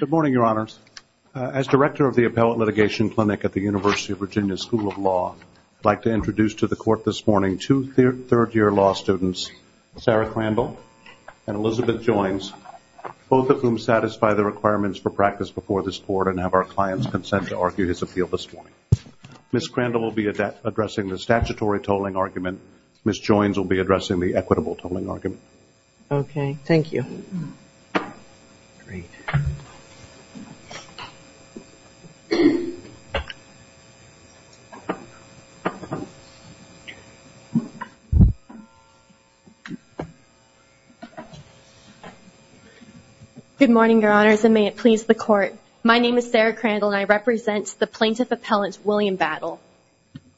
Good morning, Your Honors. As Director of the Appellate Litigation Clinic at the University of Virginia School of Law, I would like to introduce to the Court this morning two third-year law students, Sarah Crandall and Elizabeth Joines, both of whom satisfy the requirements for practice before this Court and have our client's consent to argue his appeal this morning. Ms. Crandall will be addressing the statutory tolling argument. Ms. Joines will be addressing the equitable tolling argument. Ms. Crandall Good morning, Your Honors, and may it please the Court. My name is Sarah Crandall and I represent the Plaintiff Appellant William Battle.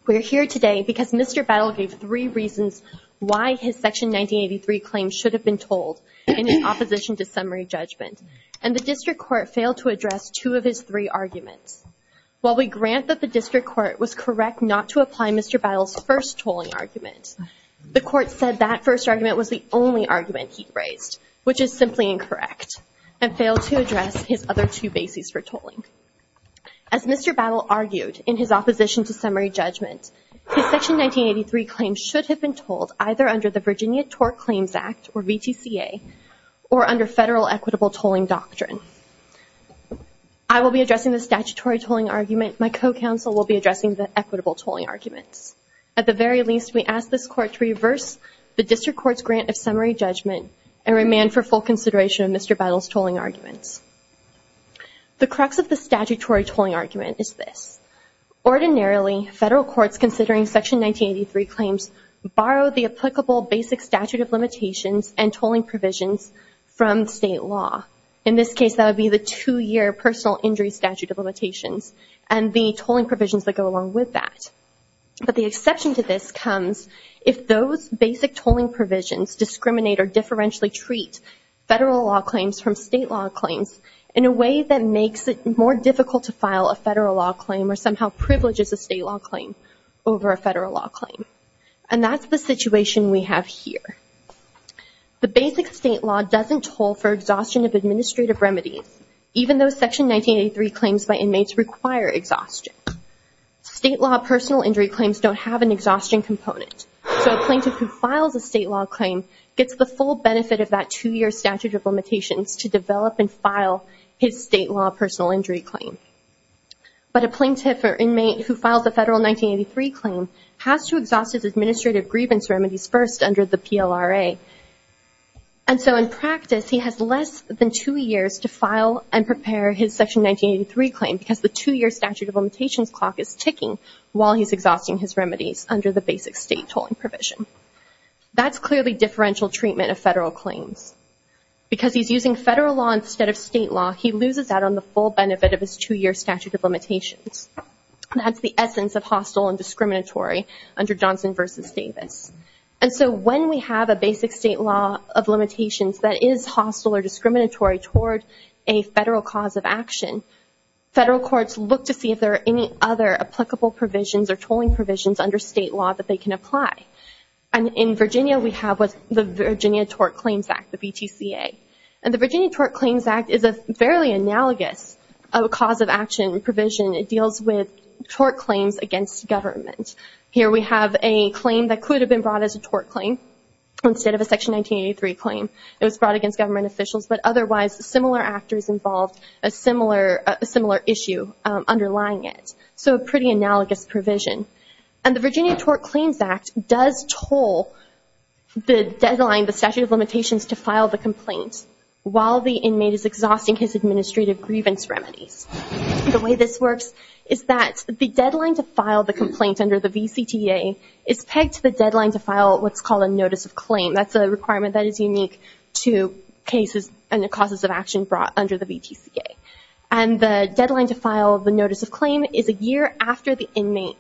We are here today because Mr. Battle gave three reasons why his Section 1983 claim should have been tolled in his Opposition to Summary Judgment, and the District Court failed to address two of his three arguments. While we grant that the District Court was correct not to apply Mr. Battle's first tolling argument, the Court said that first argument was the only argument he raised, which is simply incorrect, and failed to address his other two bases for tolling. As Mr. Battle argued in his Opposition to Summary Judgment, his Section 1983 claim should have been tolled either under the Virginia TORC Claims Act or VTCA or under federal equitable tolling doctrine. I will be addressing the statutory tolling argument. My co-counsel will be addressing the equitable tolling arguments. At the very least, we ask this Court to reverse the District Court's grant of summary judgment and remand for full consideration of Mr. Battle's tolling arguments. The crux of the statutory tolling argument is this. Ordinarily, federal courts considering Section 1983 claims borrow the applicable basic statute of limitations and tolling provisions from state law. In this case, that would be the two-year personal injury statute of limitations and the tolling provisions that go along with that. But the exception to this comes if those basic tolling provisions discriminate or differentially treat federal law claims from state law claims in a way that makes it more difficult to file a federal law claim or somehow privileges a state law claim over a federal law claim. And that's the situation we have here. The basic state law doesn't toll for exhaustion of administrative remedies, even though Section 1983 claims by inmates require exhaustion. State law personal injury claims don't have an exhaustion component. So a plaintiff who files a state law claim gets the full benefit of that two-year statute of limitations to develop and file his state law personal injury claim. But a plaintiff or inmate who files a federal 1983 claim has to exhaust his administrative grievance remedies first under the PLRA. And so in practice, he has less than two years to file and prepare his Section 1983 claim because the two-year statute of limitations clock is ticking while he's exhausting his remedies under the basic state tolling provision. That's clearly differential treatment of federal claims. Because he's using federal law instead of state law, he loses out on the full benefit of his two-year statute of limitations. That's the essence of hostile and discriminatory under Johnson versus Davis. And so when we have a basic state law of limitations that is hostile or discriminatory toward a federal cause of action, federal courts look to see if there are any other applicable provisions or tolling provisions under state law that they can apply. And in Virginia, we have what's the Virginia Tort Claims Act, the BTCA. And the Virginia Tort Claims Act is a fairly analogous cause of action provision. It deals with tort claims against government. Here we have a claim that could have been brought as a tort claim instead of a Section 1983 claim. It has a similar issue underlying it. So a pretty analogous provision. And the Virginia Tort Claims Act does toll the deadline, the statute of limitations, to file the complaint while the inmate is exhausting his administrative grievance remedies. The way this works is that the deadline to file the complaint under the VCTA is pegged to the deadline to file what's called a notice of claim. That's a requirement that is unique to cases and causes of action brought under the VTCA. And the deadline to file the notice of claim is a year after the inmate's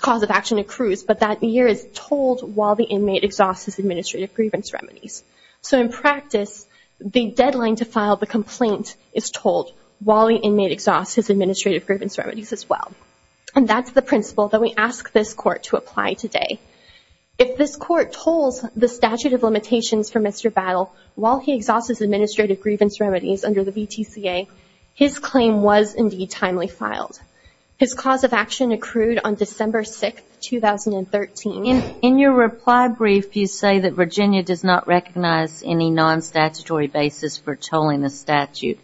cause of action accrues, but that year is tolled while the inmate exhausts his administrative grievance remedies. So in practice, the deadline to file the complaint is tolled while the inmate exhausts his administrative grievance remedies as well. And that's the principle that we ask this court to apply today. If this court tolls the statute of limitations while the inmate exhausts his administrative grievance remedies under the VTCA, his claim was indeed timely filed. His cause of action accrued on December 6, 2013. In your reply brief, you say that Virginia does not recognize any non-statutory basis for tolling the statute.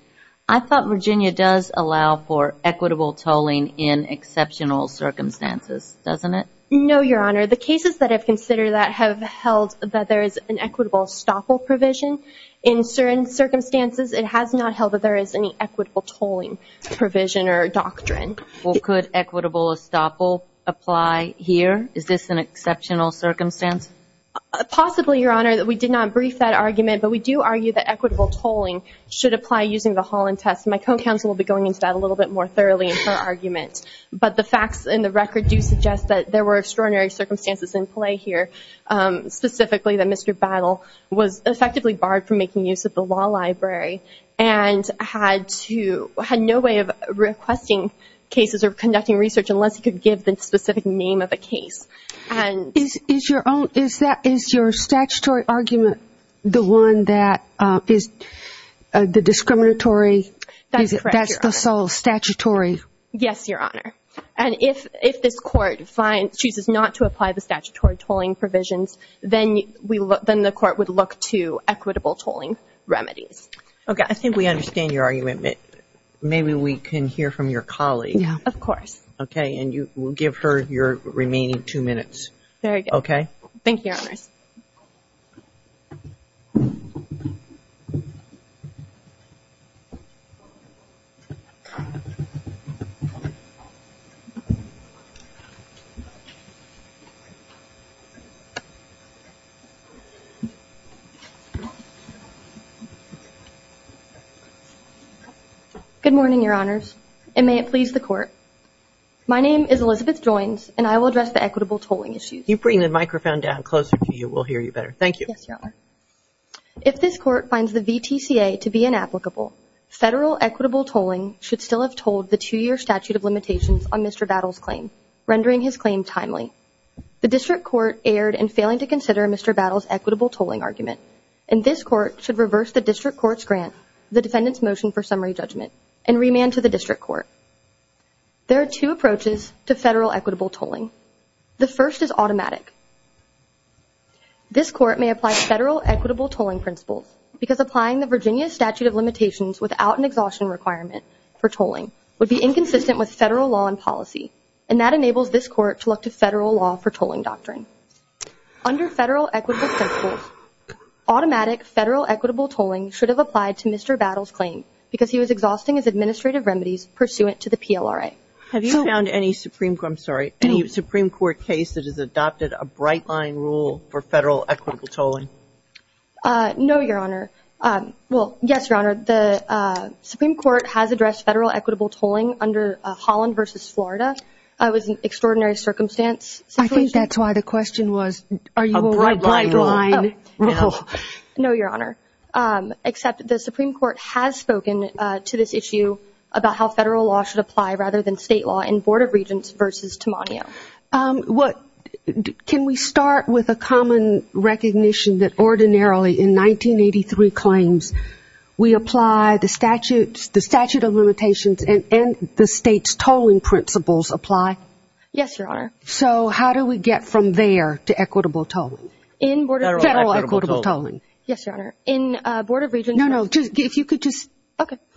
I thought Virginia does allow for equitable tolling in exceptional circumstances, doesn't it? No, Your Honor. The cases that I've considered that have held that there is an equitable estoppel provision in certain circumstances, it has not held that there is any equitable tolling provision or doctrine. Well, could equitable estoppel apply here? Is this an exceptional circumstance? Possibly, Your Honor. We did not brief that argument, but we do argue that equitable tolling should apply using the Holland test. My co-counsel will be going into that a little bit more thoroughly in her argument. But the facts in the record do suggest that there were extraordinary circumstances in play here, specifically that Mr. Battle was effectively barred from making use of the law library and had no way of requesting cases or conducting research unless he could give the specific name of a case. Is your statutory argument the one that is the discriminatory? That's correct, Your Honor. That's the sole argument. If this Court chooses not to apply the statutory tolling provisions, then the Court would look to equitable tolling remedies. Okay. I think we understand your argument. Maybe we can hear from your colleague. Of course. Okay. And you will give her your remaining two minutes. Very good. Okay? Thank you, Your Honors. Good morning, Your Honors, and may it please the Court. My name is Elizabeth Joines, and I will address the equitable tolling issues. You bring the microphone down closer to you. We'll hear you better. Thank you. Yes, Your Honor. If this Court finds the VTCA to be inapplicable, federal equitable tolling should still have tolled the two-year statute of limitations, rendering his claim timely. The District Court erred in failing to consider Mr. Battle's equitable tolling argument, and this Court should reverse the District Court's grant of the defendant's motion for summary judgment and remand to the District Court. There are two approaches to federal equitable tolling. The first is automatic. This Court may apply federal equitable tolling principles because applying the Virginia Statute of Limitations without an exhaustion requirement for tolling would be inconsistent with federal law and that enables this Court to look to federal law for tolling doctrine. Under federal equitable principles, automatic federal equitable tolling should have applied to Mr. Battle's claim because he was exhausting his administrative remedies pursuant to the PLRA. Have you found any Supreme Court case that has adopted a bright-line rule for federal equitable tolling? No, Your Honor. Well, yes, Your Honor. The Supreme Court has addressed federal equitable tolling under Holland v. Florida. It was an extraordinary circumstance. I think that's why the question was, are you a bright-line rule? No, Your Honor. Except the Supreme Court has spoken to this issue about how federal law should apply rather than state law in Board of Regents v. Timonio. Can we start with a common recognition that ordinarily in 1983 claims, we apply the statute of limitations and the state's tolling principles apply? Yes, Your Honor. So how do we get from there to equitable tolling? In Board of Regents. Federal equitable tolling. Yes, Your Honor. In Board of Regents. No, no. If you could just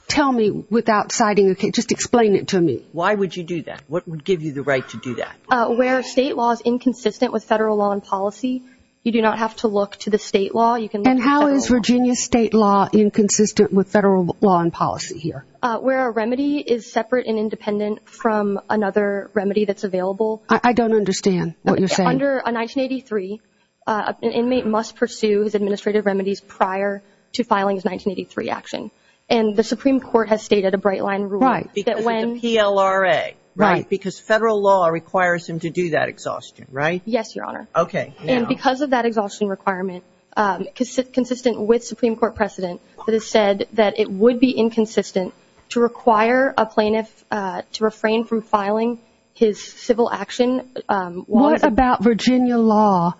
tell me without citing, just explain it to me. Why would you do that? What would give you the right to do that? Where state law is inconsistent with federal law and policy, you do not have to look to the state law. You can look at federal law. And how is Virginia state law inconsistent with federal law and policy here? Where a remedy is separate and independent from another remedy that's available. I don't understand what you're saying. Under 1983, an inmate must pursue his administrative remedies prior to filing his 1983 action. And the Supreme Court has stated a bright-line rule that when... Right. Because of the PLRA. Right. Because federal law requires him to do that exhaustion, right? Yes, Your Honor. Okay. And because of that exhaustion requirement, consistent with Supreme Court precedent, it was said that it would be inconsistent to require a plaintiff to refrain from filing his civil action laws... What about Virginia law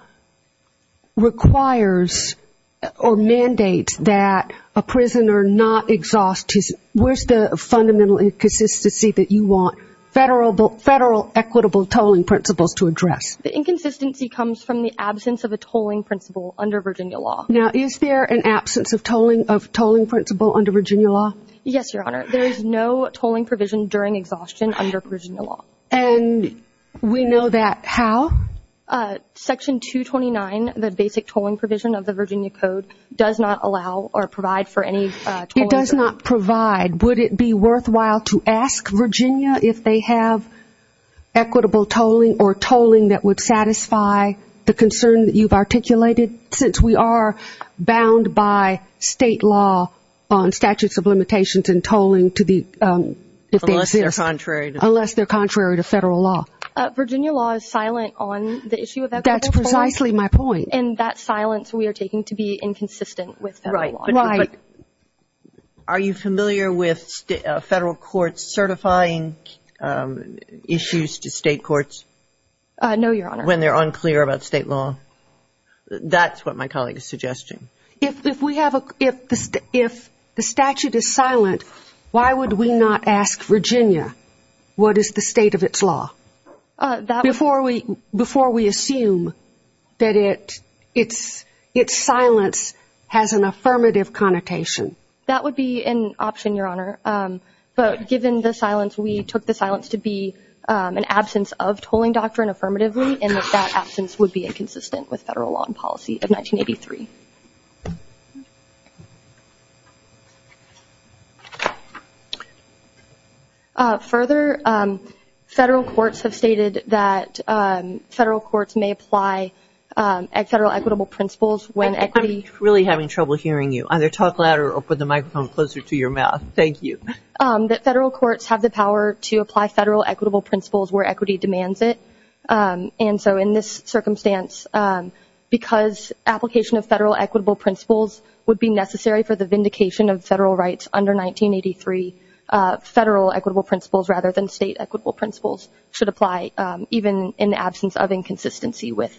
requires or mandates that a prisoner not exhaust his... Where's the fundamental inconsistency that you want federal equitable tolling principles to address? The inconsistency comes from the absence of a tolling principle under Virginia law. Now, is there an absence of tolling principle under Virginia law? Yes, Your Honor. There is no tolling provision during exhaustion under Virginia law. And we know that how? Section 229, the basic tolling provision of the Virginia Code, does not allow or provide for any tolling... It does not provide. Would it be worthwhile to ask Virginia if they have equitable tolling or tolling that would satisfy the concern that you've articulated? Since we are bound by state law on statutes of limitations and tolling to the... Unless they're contrary to... Unless they're contrary to federal law. Virginia law is silent on the issue of equitable tolling. That's precisely my point. Right. Are you familiar with federal courts certifying issues to state courts... No, Your Honor. ...when they're unclear about state law? That's what my colleague is suggesting. If the statute is silent, why would we not ask Virginia what is the state of its law? Before we assume that its silence has an affirmative connotation. That would be an option, Your Honor. But given the silence, we took the silence to be an absence of tolling doctrine affirmatively, and that absence would be inconsistent with federal law and policy of 1983. Further, federal courts have stated that federal courts may apply federal equitable principles when equity... I'm really having trouble hearing you. Either talk louder or put the microphone closer to your mouth. Thank you. That federal courts have the power to apply federal equitable principles where equity demands it. And so in this circumstance, because application of federal equitable principles would be necessary for the vindication of federal rights under 1983, federal equitable principles rather than state equitable principles should apply even in the absence of inconsistency with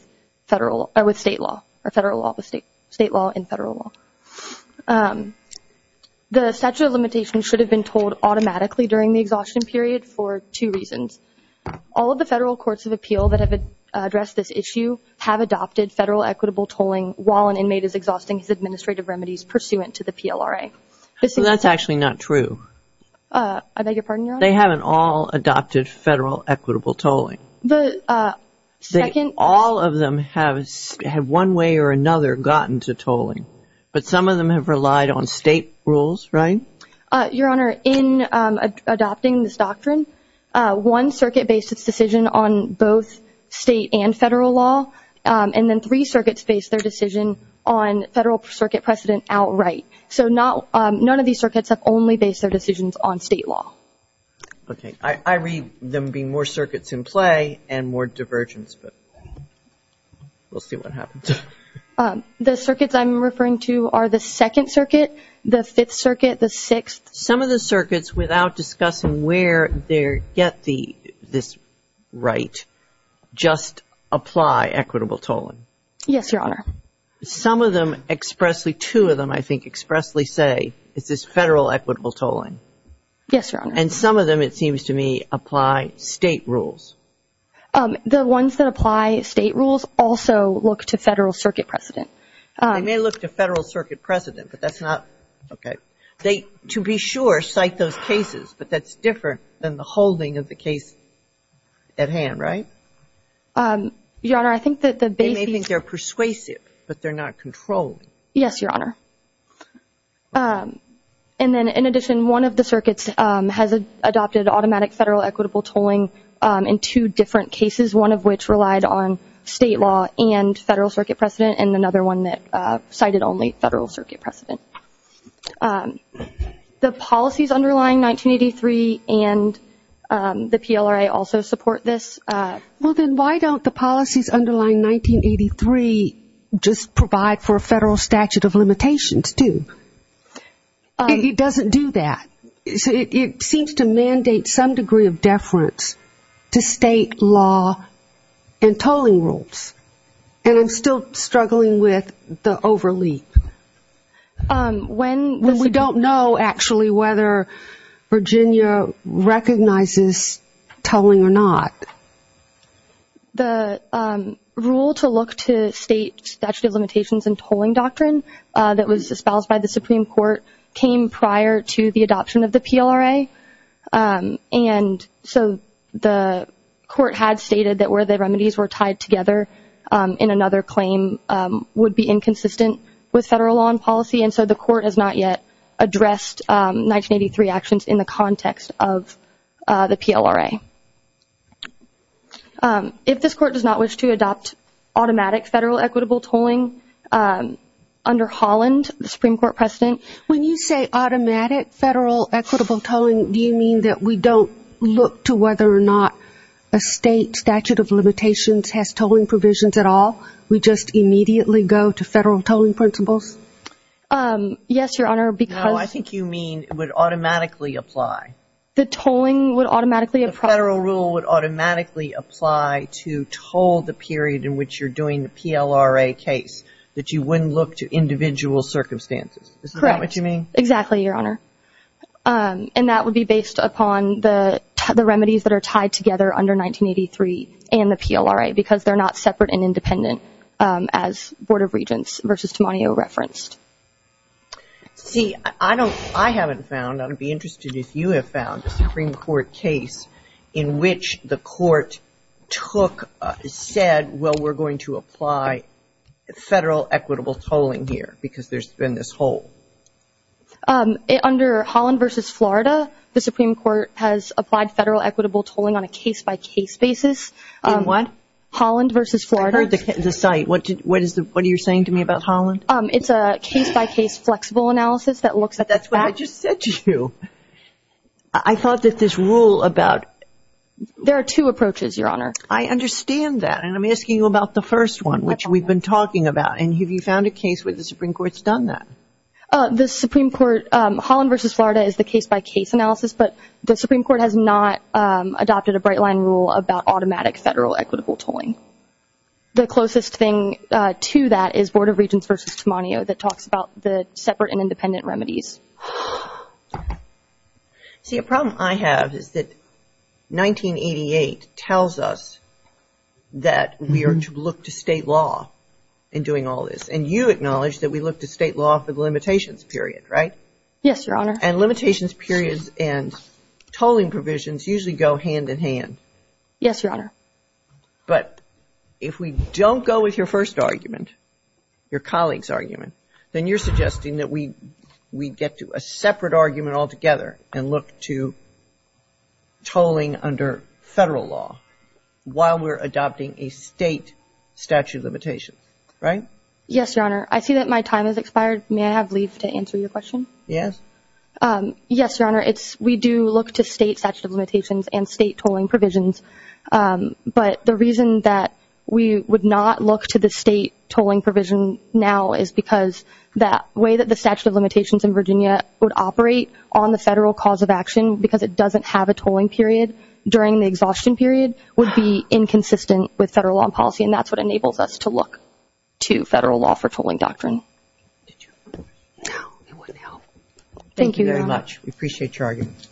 federal or with state law, or federal law, state law, and federal law. The statute of limitations should have been tolled automatically during the exhaustion period for two reasons. All of the federal courts of appeal that have addressed this issue have adopted federal equitable tolling while an inmate is exhausting his administrative remedies pursuant to the PLRA. That's actually not true. I beg your pardon, Your Honor? They haven't all adopted federal equitable tolling. All of them have one way or another gotten to tolling, but some of them have relied on state rules, right? Your Honor, in adopting this doctrine, one circuit based its decision on both state and federal law, and then three circuits based their decision on federal circuit precedent outright. So none of these circuits have only based their decisions on state law. Okay. I read them being more circuits in play and more divergence, but we'll see what happens. The circuits I'm referring to are the Second Circuit, the Fifth Circuit, the Sixth. Some of the circuits, without discussing where they get this right, just apply equitable tolling. Yes, Your Honor. Some of them expressly, two of them, I think, expressly say it's this federal equitable tolling. Yes, Your Honor. And some of them, it seems to me, apply state rules. The ones that apply state rules also look to federal circuit precedent. They may look to federal circuit precedent, but that's not, okay. They, to be sure, cite those cases, but that's different than the holding of the case at hand, right? Your Honor, I think that the basic... They may think they're persuasive, but they're not controlling. Yes, Your Honor. And then, in addition, one of the circuits has adopted automatic federal equitable tolling in two different cases, one of which relied on state law and federal circuit precedent, and another one that cited only federal circuit precedent. The policies underlying 1983 and the PLRA also support this. Well, then, why don't the policies underlying 1983 just provide for a federal statute of limitations, too? It doesn't do that. It seems to mandate some degree of deference to state law and tolling rules, and I'm still struggling with the overleap. When we don't know, actually, whether Virginia recognizes tolling or not. The rule to look to state statute of limitations and tolling doctrine that was espoused by the adoption of the PLRA, and so the court had stated that where the remedies were tied together in another claim would be inconsistent with federal law and policy, and so the court has not yet addressed 1983 actions in the context of the PLRA. If this court does not wish to adopt automatic federal equitable tolling under Holland, the Supreme Court precedent... When you say automatic federal equitable tolling, do you mean that we don't look to whether or not a state statute of limitations has tolling provisions at all? We just immediately go to federal tolling principles? Yes, Your Honor, because... No, I think you mean it would automatically apply. The tolling would automatically apply. The federal rule would automatically apply to toll the period in which you're doing the PLRA case, that you wouldn't look to individual circumstances. Correct. Is that what you mean? Exactly, Your Honor, and that would be based upon the remedies that are tied together under 1983 and the PLRA because they're not separate and independent as Board of Regents versus Timonio referenced. See, I haven't found, I'd be interested if you have found, a Supreme Court case in which the court took, said, well, we're going to apply federal equitable tolling here because there's been this hole. Under Holland v. Florida, the Supreme Court has applied federal equitable tolling on a case-by-case basis. In what? Holland v. Florida. I've heard the site. What is the, what are you saying to me about Holland? It's a case-by-case flexible analysis that looks at... But that's what I just said to you. I thought that this rule about... There are two approaches, Your Honor. I understand that, and I'm asking you about the first one, which we've been talking about, and have you found a case where the Supreme Court's done that? The Supreme Court, Holland v. Florida is the case-by-case analysis, but the Supreme Court has not adopted a bright-line rule about automatic federal equitable tolling. The closest thing to that is Board of Regents versus Timonio that talks about the separate and independent remedies. See, a problem I have is that 1988 tells us that we are to look to state law in doing all this, and you acknowledge that we look to state law for the limitations period, right? Yes, Your Honor. And limitations periods and tolling provisions usually go hand-in-hand. Yes, Your Honor. But if we don't go with your first argument, your colleague's argument, then you're suggesting that we get to a separate argument altogether and look to tolling under federal law while we're adopting a state statute of limitations, right? Yes, Your Honor. I see that my time has expired. May I have leave to answer your question? Yes. Yes, Your Honor. We do look to state statute of limitations and state tolling provisions, but the reason that we would not look to the state tolling provision now is because the way that the statute of limitations in Virginia would operate on the federal cause of action because it is inconsistent with federal law and policy, and that's what enables us to look to federal law for tolling doctrine. Did you? No. It wouldn't help. Thank you, Your Honor. Thank you very much. We appreciate your argument.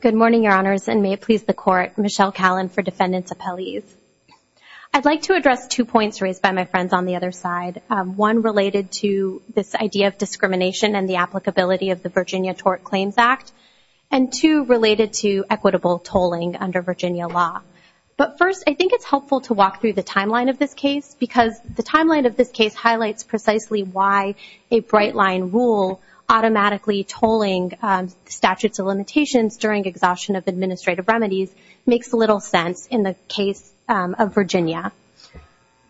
Good morning, Your Honors, and may it please the Court, Michelle Callen for Defendant's Appellees. I'd like to address two points raised by my friends on the other side, one related to this idea of discrimination and the applicability of the Virginia Tort Claims Act, and two related to equitable tolling under Virginia law. But first, I think it's helpful to walk through the timeline of this case because the timeline of this case highlights precisely why a bright-line rule automatically tolling statutes of limitations during exhaustion of administrative remedies makes little sense in the case of Virginia.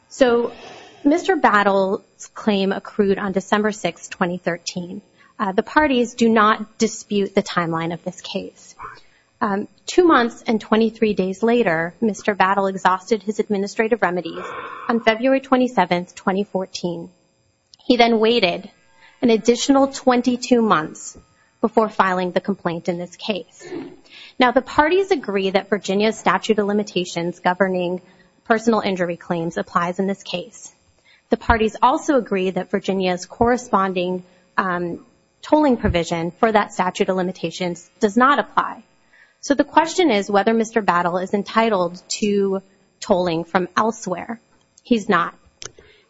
So, Mr. Battle's claim accrued on December 6, 2013. The parties do not dispute the timeline of this case. Two months and 23 days later, Mr. Battle exhausted his administrative remedies on February 27, 2014. He then waited an additional 22 months before filing the complaint in this case. Now, the parties agree that Virginia's statute of limitations governing personal injury claims applies in this case. The parties also agree that Virginia's corresponding tolling provision for that statute of limitations does not apply. So, the question is whether Mr. Battle is entitled to tolling from elsewhere. He's not.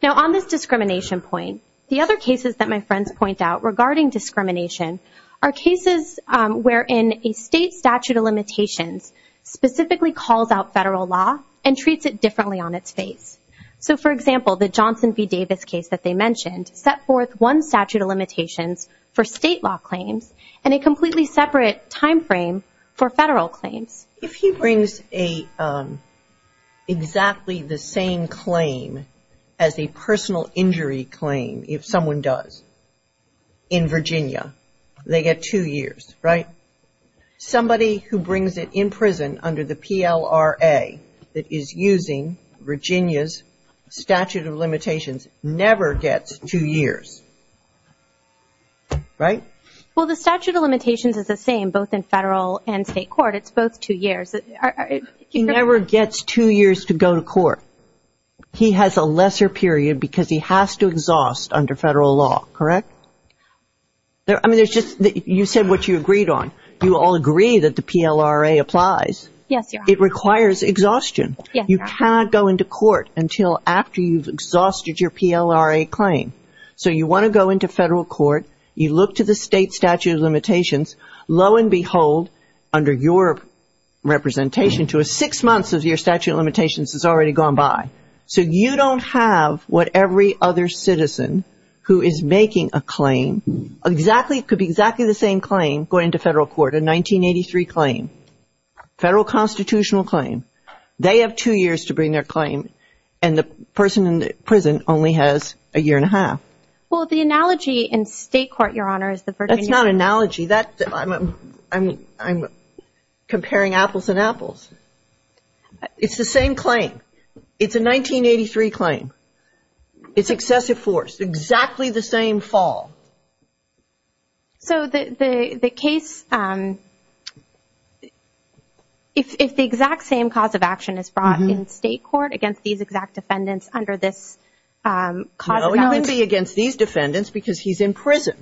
Now, on this discrimination point, the other cases that my friends point out regarding discrimination are cases wherein a state statute of limitations specifically calls out federal law and treats it differently on its face. So, for example, the Johnson v. Davis case that they mentioned set forth one statute of limitations for state law claims and a completely separate timeframe for federal claims. If he brings exactly the same claim as a personal injury claim, if someone does, in Virginia, they get two years, right? Somebody who brings it in prison under the PLRA that is using Virginia's statute of limitations never gets two years, right? Well, the statute of limitations is the same both in federal and state court. It's both two years. He never gets two years to go to court. He has a lesser period because he has to exhaust under federal law, correct? I mean, there's just, you said what you agreed on. You all agree that the PLRA applies. It requires exhaustion. You cannot go into court until after you've exhausted your PLRA claim. So, you want to go into federal court, you look to the state statute of limitations, lo and behold, under your representation to a six months of your statute of limitations has already gone by. So, you don't have what every other citizen who is making a claim, exactly, could be exactly the same claim going to federal court, a 1983 claim, federal constitutional claim. They have two years to bring their claim and the person in prison only has a year and a half. Well, the analogy in state court, Your Honor, is the Virginia. That's not an analogy. I'm comparing apples and apples. It's the same claim. It's a 1983 claim. It's excessive force. Exactly the same fall. So the case, if the exact same cause of action is brought in state court against these exact defendants under this cause of allegation. No, it wouldn't be against these defendants because he's in prison.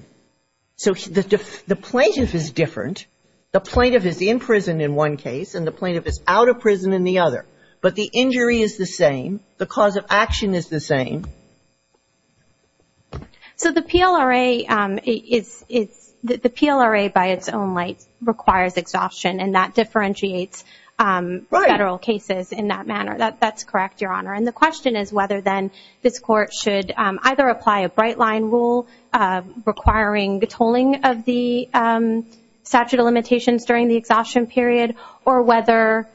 So the plaintiff is different. The plaintiff is in prison in one case and the plaintiff is out of prison in the other. But the injury is the same. The cause of action is the same. So the PLRA is, the PLRA by its own right requires exhaustion and that differentiates federal cases in that manner. That's correct, Your Honor. And the question is whether then this court should either apply a bright line rule requiring the tolling of the statute of limitations during the exhaustion period or whether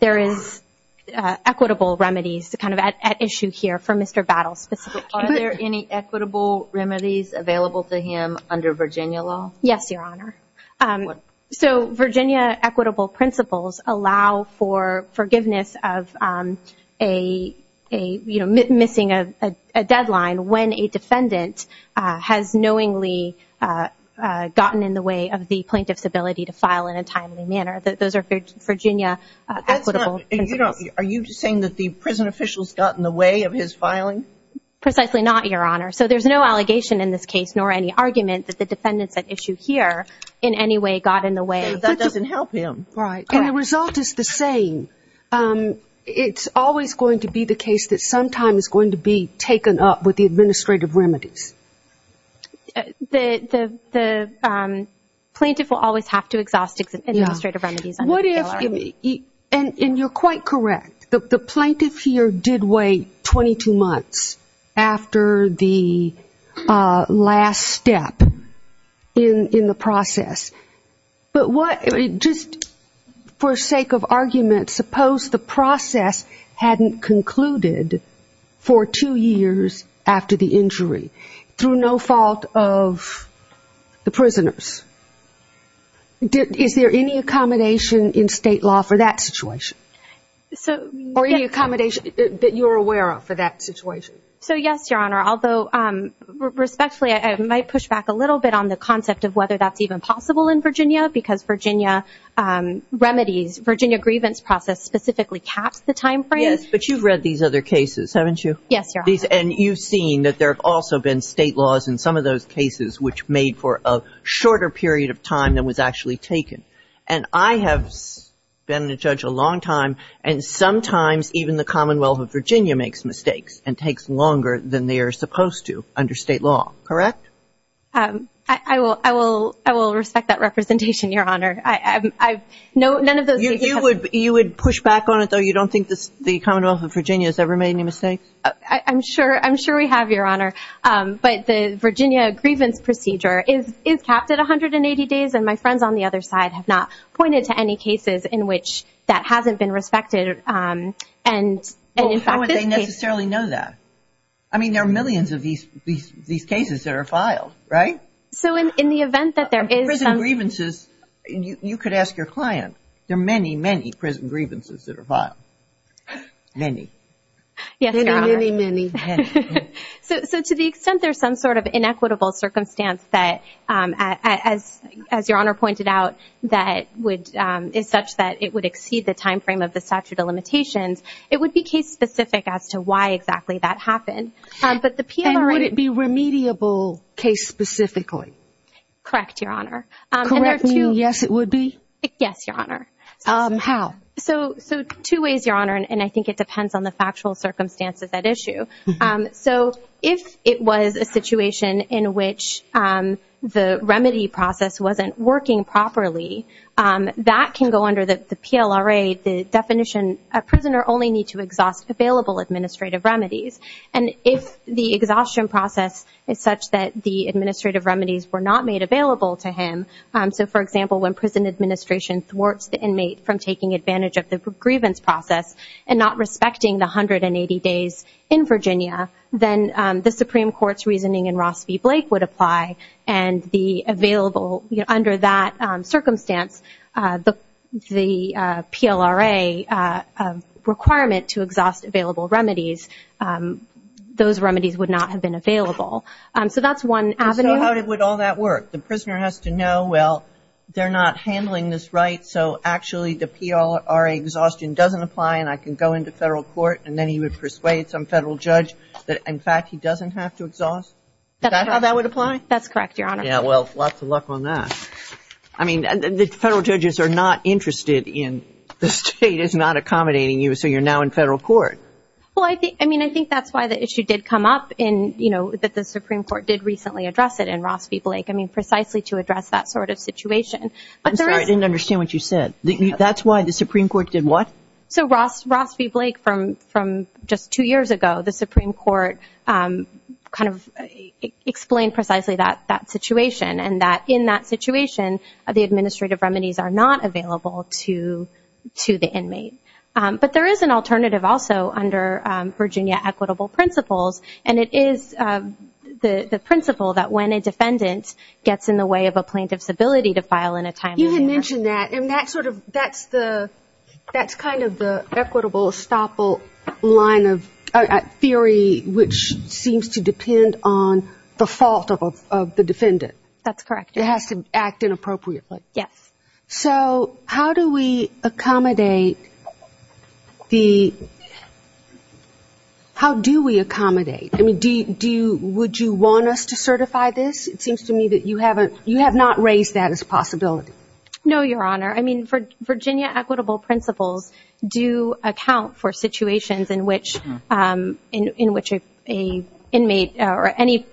there is equitable remedies kind of at issue here for Mr. Battle's specific case. Are there any equitable remedies available to him under Virginia law? Yes, Your Honor. So Virginia equitable principles allow for forgiveness of a, you know, missing a deadline when a defendant has knowingly gotten in the way of the plaintiff's ability to file in a timely manner. Those are Virginia equitable principles. Are you saying that the prison official's gotten in the way of his filing? Precisely not, Your Honor. So there's no allegation in this case nor any argument that the defendants at issue here in any way got in the way. That doesn't help him. Right. Correct. And the result is the same. It's always going to be the case that sometime is going to be taken up with the administrative remedies. The plaintiff will always have to exhaust administrative remedies under the PLRA. And you're quite correct. The plaintiff here did wait 22 months after the last step in the process. But just for sake of argument, suppose the process hadn't concluded for two years after the injury through no fault of the prisoners. Is there any accommodation in state law for that situation? Or any accommodation that you're aware of for that situation? So yes, Your Honor. Although respectfully, I might push back a little bit on the concept of whether that's even possible in Virginia because Virginia remedies, Virginia grievance process specifically caps the time frame. Yes. But you've read these other cases, haven't you? Yes, Your Honor. And you've seen that there have also been state laws in some of those cases which made for a shorter period of time than was actually taken. And I have been a judge a long time, and sometimes even the Commonwealth of Virginia makes mistakes and takes longer than they are supposed to under state law, correct? I will respect that representation, Your Honor. None of those cases have... You would push back on it, though? You don't think the Commonwealth of Virginia has ever made any mistakes? I'm sure we have, Your Honor. But the Virginia grievance procedure is capped at 180 days, and my friends on the other side have not pointed to any cases in which that hasn't been respected. And in fact, this case... Well, how would they necessarily know that? I mean, there are millions of these cases that are filed, right? So in the event that there is some... Prison grievances, you could ask your client, there are many, many prison grievances that are filed. Many. Yes, Your Honor. Many, many, many. Many. So to the extent there's some sort of inequitable circumstance that, as Your Honor pointed out, is such that it would exceed the timeframe of the statute of limitations, it would be case-specific as to why exactly that happened. But the PMR... And would it be remediable case-specifically? Correct, Your Honor. Correct meaning yes, it would be? Yes, Your Honor. How? So two ways, Your Honor, and I think it depends on the factual circumstances at issue. So if it was a situation in which the remedy process wasn't working properly, that can go under the PLRA, the definition, a prisoner only need to exhaust available administrative remedies. And if the exhaustion process is such that the administrative remedies were not made available to him, so for example, when prison administration thwarts the inmate from taking the 180 days in Virginia, then the Supreme Court's reasoning in Ross v. Blake would apply and the available, under that circumstance, the PLRA requirement to exhaust available remedies, those remedies would not have been available. So that's one avenue. And so how would all that work? The prisoner has to know, well, they're not handling this right, so actually the PLRA exhaustion doesn't apply and I can go into federal court and then he would persuade some federal judge that, in fact, he doesn't have to exhaust? Is that how that would apply? That's correct, Your Honor. Yeah, well, lots of luck on that. I mean, the federal judges are not interested in the state is not accommodating you, so you're now in federal court. Well, I think, I mean, I think that's why the issue did come up in, you know, that the Supreme Court did recently address it in Ross v. Blake, I mean, precisely to address that sort of situation. I'm sorry, I didn't understand what you said. That's why the Supreme Court did what? So Ross v. Blake, from just two years ago, the Supreme Court kind of explained precisely that situation and that in that situation, the administrative remedies are not available to the inmate. But there is an alternative also under Virginia Equitable Principles, and it is the principle that when a defendant gets in the way of a plaintiff's ability to file in a timely manner. You had mentioned that, and that's sort of, that's the, that's kind of the equitable estoppel line of theory, which seems to depend on the fault of the defendant. That's correct. It has to act inappropriately. Yes. So how do we accommodate the, how do we accommodate, I mean, do you, would you want us to certify this? Because it seems to me that you haven't, you have not raised that as a possibility. No, Your Honor. I mean, Virginia Equitable Principles do account for situations in which, in which a inmate or any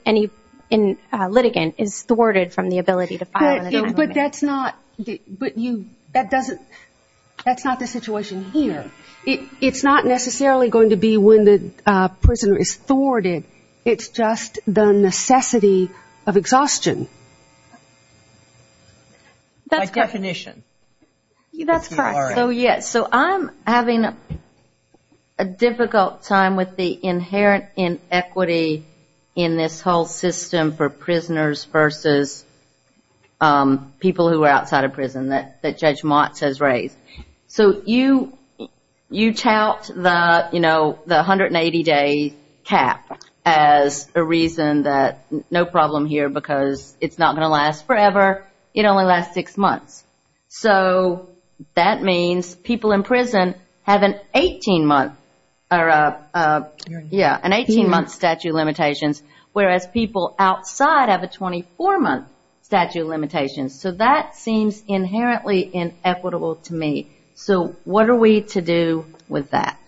litigant is thwarted from the ability to file. But that's not, but you, that doesn't, that's not the situation here. It's not necessarily going to be when the prisoner is thwarted. It's just the necessity of exhaustion. That's correct. By definition. That's correct. So, yes, so I'm having a difficult time with the inherent inequity in this whole system for prisoners versus people who are outside of prison that Judge Motz has raised. So you, you tout the, you know, the 180-day cap as a reason that, no problem here because it's not going to last forever, it only lasts six months. So that means people in prison have an 18-month statute of limitations, whereas people outside have a 24-month statute of limitations. So that seems inherently inequitable to me. So what are we to do with that?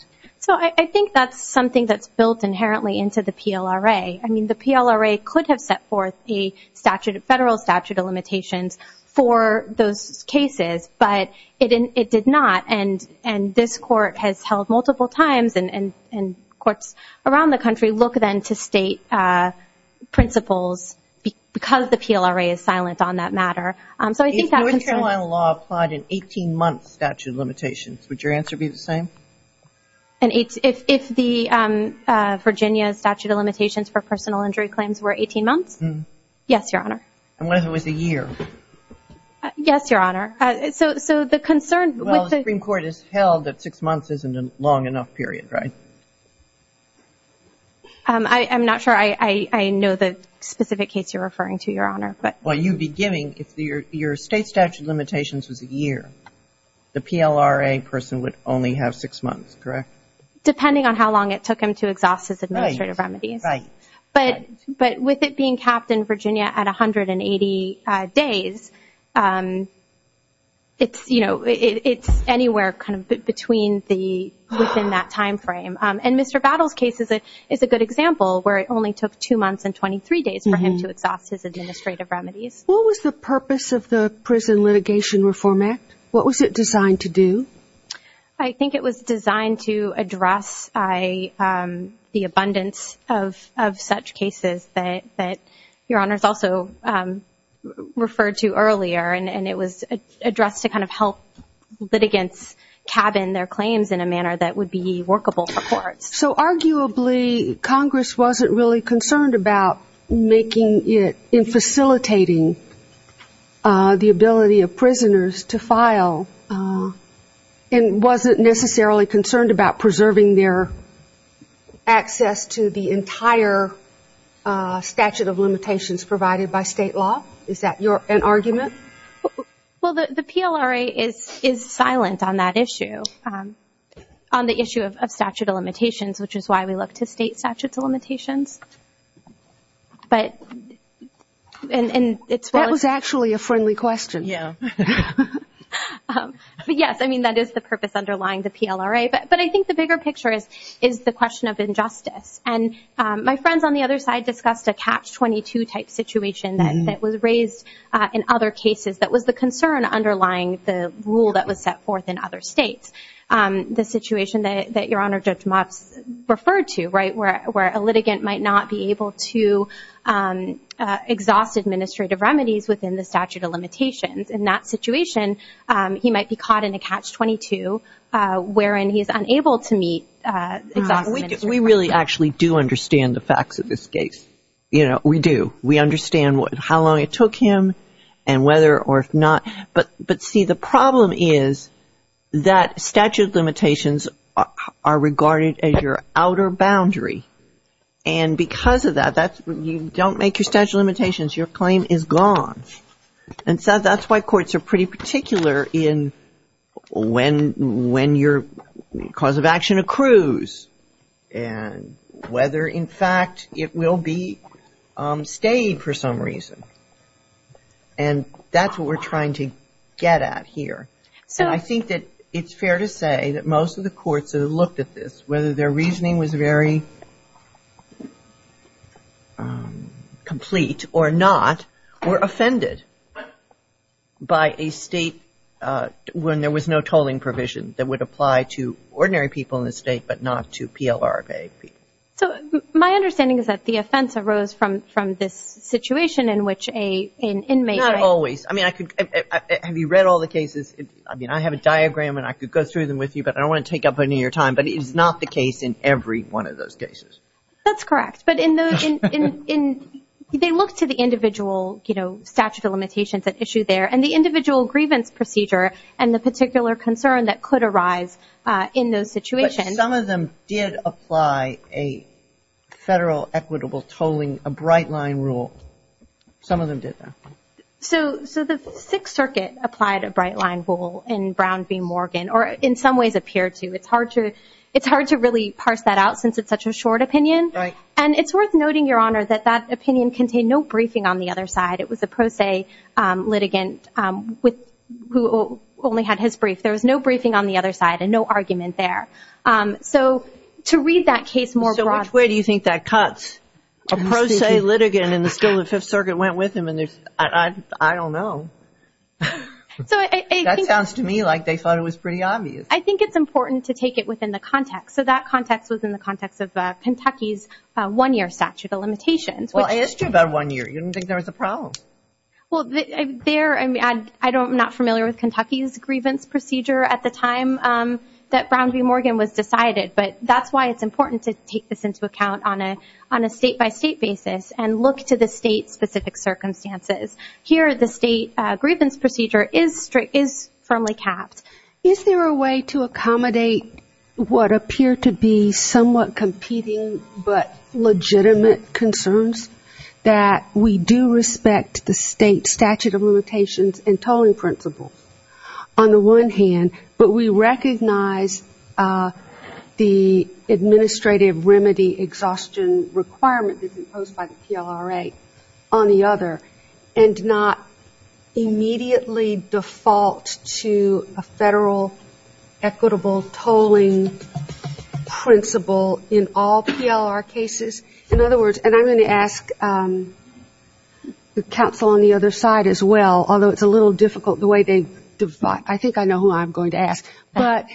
So I think that's something that's built inherently into the PLRA. I mean, the PLRA could have set forth a statute, a federal statute of limitations for those cases, but it did not. And this Court has held multiple times, and courts around the country look then to state principles because the PLRA is silent on that matter. So I think that's true. If North Carolina law applied an 18-month statute of limitations, would your answer be the same? An 18, if the Virginia statute of limitations for personal injury claims were 18 months? Yes, Your Honor. And what if it was a year? Yes, Your Honor. So, so the concern with the Well, the Supreme Court has held that six months isn't a long enough period, right? I'm not sure I know the specific case you're referring to, Your Honor, but Well, you'd be giving, if your state statute of limitations was a year, the PLRA person would only have six months, correct? Depending on how long it took him to exhaust his administrative remedies. Right, right. But with it being capped in Virginia at 180 days, it's, you know, it's anywhere kind of between the, within that timeframe. And Mr. Battles' case is a good example where it only took two months and 23 days for him to exhaust his administrative remedies. What was the purpose of the Prison Litigation Reform Act? What was it designed to do? I think it was designed to address the abundance of such cases that Your Honor's also referred to earlier, and it was addressed to kind of help litigants cabin their claims in a manner that would be workable for courts. So arguably, Congress wasn't really concerned about making it, in facilitating the ability of prisoners to file, and wasn't necessarily concerned about preserving their access to the entire statute of limitations provided by state law? Is that your, an argument? Well, the PLRA is silent on that issue, on the issue of statute of limitations, which is why we look to state statute of limitations. But, and it's well- That was actually a friendly question. Yeah. But yes, I mean, that is the purpose underlying the PLRA. But I think the bigger picture is the question of injustice. And my friends on the other side discussed a Catch-22 type situation that was raised in other cases that was the concern underlying the rule that was set forth in other states. The situation that Your Honor, Judge Motz referred to, right, where a litigant might not be able to exhaust administrative remedies within the statute of limitations. In that situation, he might be caught in a Catch-22, wherein he is unable to meet exhaustive administrative remedies. Well, we really actually do understand the facts of this case. You know, we do. We understand how long it took him and whether or if not, but see, the problem is that statute of limitations are regarded as your outer boundary. And because of that, you don't make your statute of limitations, your claim is gone. And so that's why courts are pretty particular in when your cause of action accrues and whether, in fact, it will be stayed for some reason. And that's what we're trying to get at here. So I think that it's fair to say that most of the courts that have looked at this, whether their reasoning was very complete or not, were offended by a state when there was no tolling provision that would apply to ordinary people in the state, but not to PLRK people. So my understanding is that the offense arose from this situation in which an inmate Not always. I mean, have you read all the cases? I mean, I have a diagram and I could go through them with you, but I don't want to take up any of your time. But it is not the case in every one of those cases. That's correct. But in those, they look to the individual, you know, statute of limitations at issue there and the individual grievance procedure and the particular concern that could arise in those situations. But some of them did apply a federal equitable tolling, a bright line rule. Some of them did that. So the Sixth Circuit applied a bright line rule in Brown v. Morgan, or in some ways appeared to. It's hard to really parse that out since it's such a short opinion. And it's worth noting, Your Honor, that that opinion contained no briefing on the other side. It was a pro se litigant who only had his brief. There was no briefing on the other side and no argument there. So to read that case more broadly. So which way do you think that cuts? A pro se litigant and still the Fifth Circuit went with him and there's, I don't know. So that sounds to me like they thought it was pretty obvious. I think it's important to take it within the context. So that context was in the context of Kentucky's one-year statute of limitations. Well, it's just about one year. You don't think there was a problem? Well, I'm not familiar with Kentucky's grievance procedure at the time that Brown v. Morgan was decided. But that's why it's important to take this into account on a state-by-state basis and look to the state-specific circumstances. Here the state grievance procedure is firmly capped. Is there a way to accommodate what appear to be somewhat competing but legitimate concerns that we do respect the state statute of limitations and tolling principles on the one hand, but we recognize the administrative remedy exhaustion requirement that's imposed by the PLRA on the other, and not immediately default to a federal equitable tolling principle in all PLR cases? In other words, and I'm going to ask the counsel on the other side as well, although it's a little difficult the way they divide. I think I know who I'm going to ask. But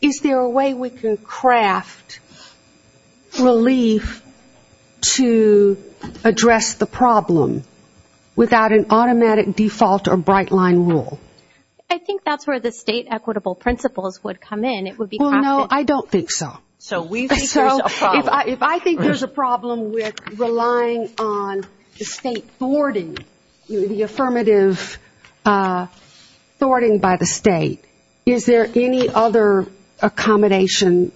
is there a way we can craft relief to address the problem without an automatic default or bright line rule? I think that's where the state equitable principles would come in. It would be crafted. Well, no, I don't think so. So we think there's a problem. A problem with relying on the state thwarting, the affirmative thwarting by the state. Is there any other accommodation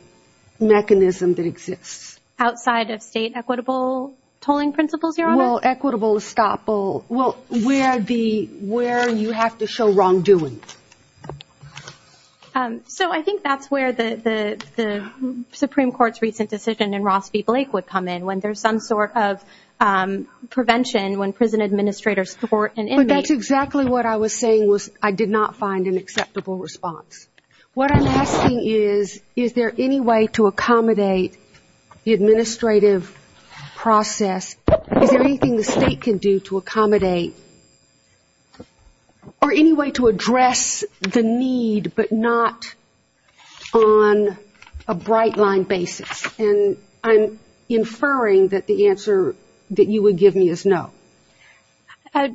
mechanism that exists? Outside of state equitable tolling principles, Your Honor? Well, equitable estoppel, well, where you have to show wrongdoing. So I think that's where the Supreme Court's recent decision in Ross v. Blake would come in, when there's some sort of prevention, when prison administrators thwart an inmate. But that's exactly what I was saying was I did not find an acceptable response. What I'm asking is, is there any way to accommodate the administrative process? Is there anything the state can do to accommodate or any way to address the need but not on a bright line basis? And I'm inferring that the answer that you would give me is no.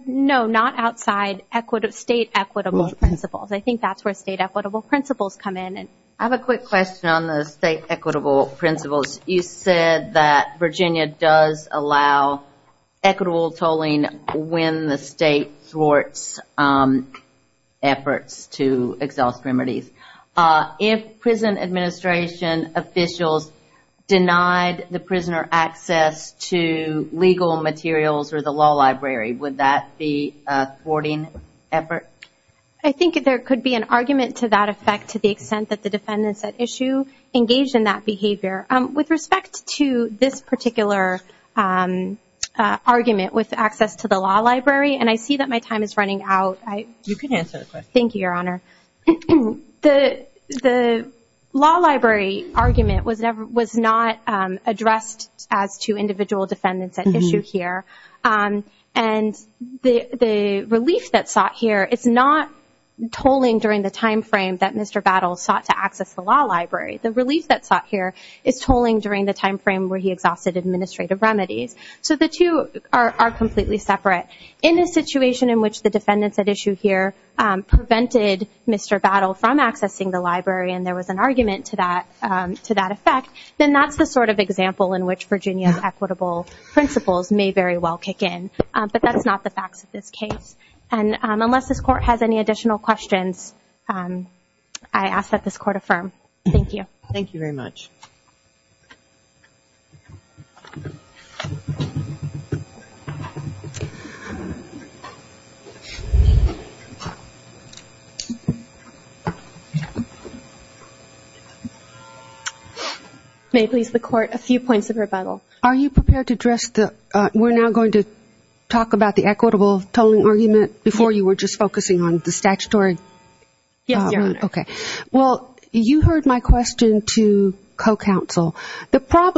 No, not outside state equitable principles. I think that's where state equitable principles come in. I have a quick question on the state equitable principles. You said that Virginia does allow equitable tolling when the state thwarts efforts to exhaust remedies. If prison administration officials denied the prisoner access to legal materials or the law library, would that be a thwarting effort? I think there could be an argument to that effect to the extent that the defendants at issue engaged in that behavior. With respect to this particular argument with access to the law library, and I see that my time is running out. You can answer it. Thank you, Your Honor. The law library argument was not addressed as to individual defendants at issue here. And the relief that's sought here is not tolling during the time frame that Mr. Battles sought to access the law library. The relief that's sought here is tolling during the time frame where he exhausted administrative remedies. So the two are completely separate. In a situation in which the defendants at issue here prevented Mr. Battle from accessing the library and there was an argument to that effect, then that's the sort of example in which Virginia's equitable principles may very well kick in. But that's not the facts of this case. And unless this Court has any additional questions, I ask that this Court affirm. Thank you. Thank you very much. May it please the Court, a few points of rebuttal. Are you prepared to address the – we're now going to talk about the equitable tolling argument before you were just focusing on the statutory – Yes, Your Honor. Okay. Well, you heard my question to co-counsel.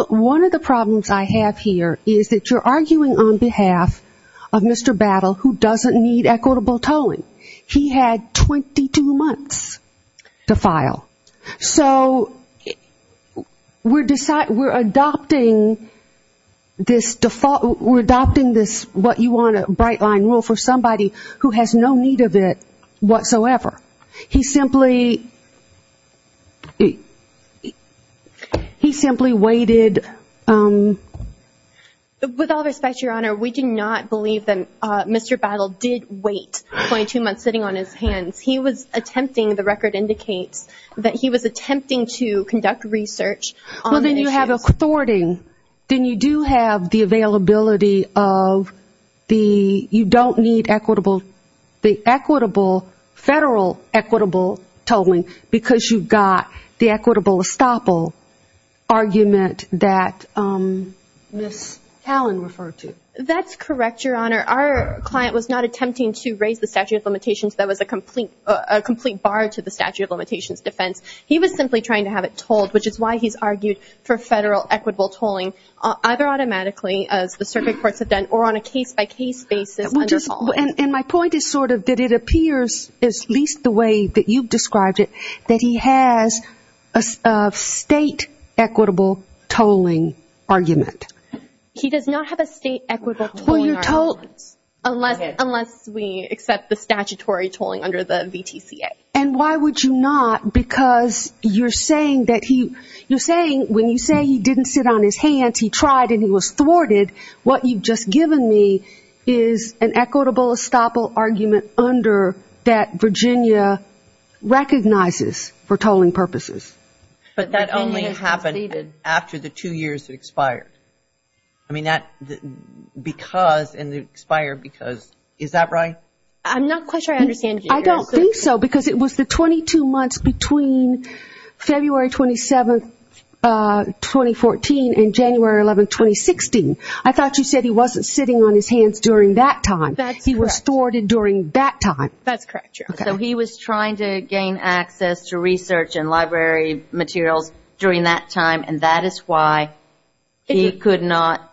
One of the problems I have here is that you're arguing on behalf of Mr. Battle, who doesn't need equitable tolling. He had 22 months to file. So we're adopting this what you want, a bright line rule for somebody who has no need of it whatsoever. He simply – he simply waited – With all respect, Your Honor, we do not believe that Mr. Battle did wait 22 months sitting on his hands. He was attempting – the record indicates that he was attempting to conduct research on issues – Well, then you have a thwarting. Then you do have the availability of the – you don't need equitable – the equitable – federal equitable tolling because you've got the equitable estoppel argument that Ms. Callan referred to. That's correct, Your Honor. Our client was not attempting to raise the statute of limitations. That was a complete – a complete bar to the statute of limitations defense. He was simply trying to have it tolled, which is why he's argued for federal equitable tolling either automatically, as the circuit courts have done, or on a case-by-case basis under – And my point is sort of that it appears, at least the way that you've described it, that he has a state equitable tolling argument. He does not have a state equitable tolling argument. Well, you're told – Unless – unless we accept the statutory tolling under the VTCA. And why would you not? Because you're saying that he – you're saying when you say he didn't sit on his hands, he tried and he was thwarted, what you've just given me is an equitable estoppel argument under that Virginia recognizes for tolling purposes. But that only happened after the two years had expired. I mean, that – because – and it expired because – is that right? I don't think so, because it was the 22 months between February 27th, 2014, and January 11th, 2016. I thought you said he wasn't sitting on his hands during that time. He was thwarted during that time. That's correct, Cheryl. So he was trying to gain access to research and library materials during that time, and that is why he could not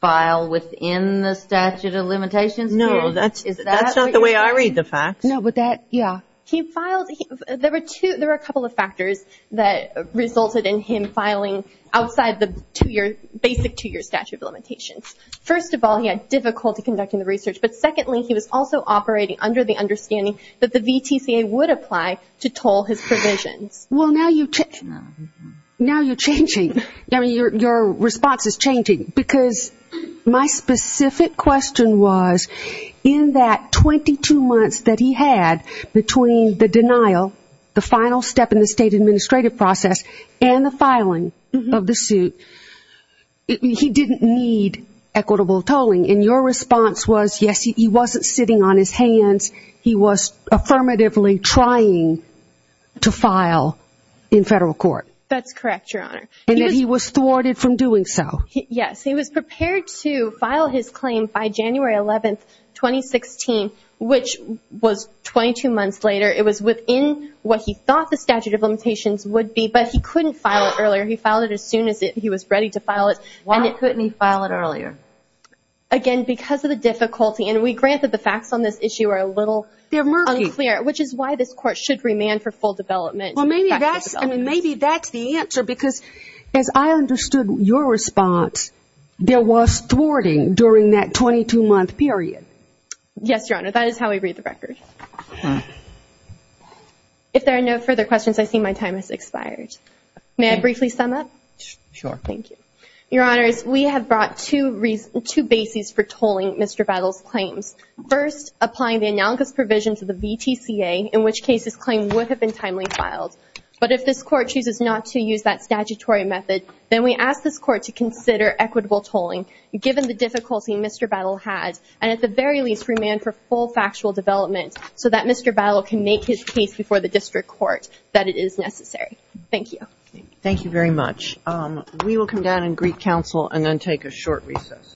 file within the statute of limitations here? No, that's – that's not the way I read the facts. No, but that – yeah. He filed – there were two – there were a couple of factors that resulted in him filing outside the two-year – basic two-year statute of limitations. First of all, he had difficulty conducting the research, but secondly, he was also operating under the understanding that the VTCA would apply to toll his provisions. Well now you – now you're changing. I mean, your response is changing, because my specific question was in that 22 months that he had between the denial, the final step in the state administrative process, and the filing of the suit, he didn't need equitable tolling, and your response was, yes, he wasn't sitting on his hands. He was affirmatively trying to file in federal court. That's correct, Your Honor. And that he was thwarted from doing so. Yes, he was prepared to file his claim by January 11th, 2016, which was 22 months later. It was within what he thought the statute of limitations would be, but he couldn't file it earlier. He filed it as soon as he was ready to file it. Why couldn't he file it earlier? Again, because of the difficulty, and we grant that the facts on this issue are a little unclear. They're murky. Which is why this Court should remand for full development. Well, maybe that's – I mean, maybe that's the answer, because as I understood your response, there was thwarting during that 22-month period. Yes, Your Honor. That is how we read the record. If there are no further questions, I see my time has expired. May I briefly sum up? Sure. Thank you. Your Honors, we have brought two bases for tolling Mr. Battle's claims. First, applying the analogous provisions of the VTCA, in which case his claim would have been timely filed. But if this Court chooses not to use that statutory method, then we ask this Court to consider equitable tolling, given the difficulty Mr. Battle had, and at the very least remand for full factual development, so that Mr. Battle can make his case before the District Court that it is necessary. Thank you. Thank you very much. We will come down and greet counsel and then take a short recess.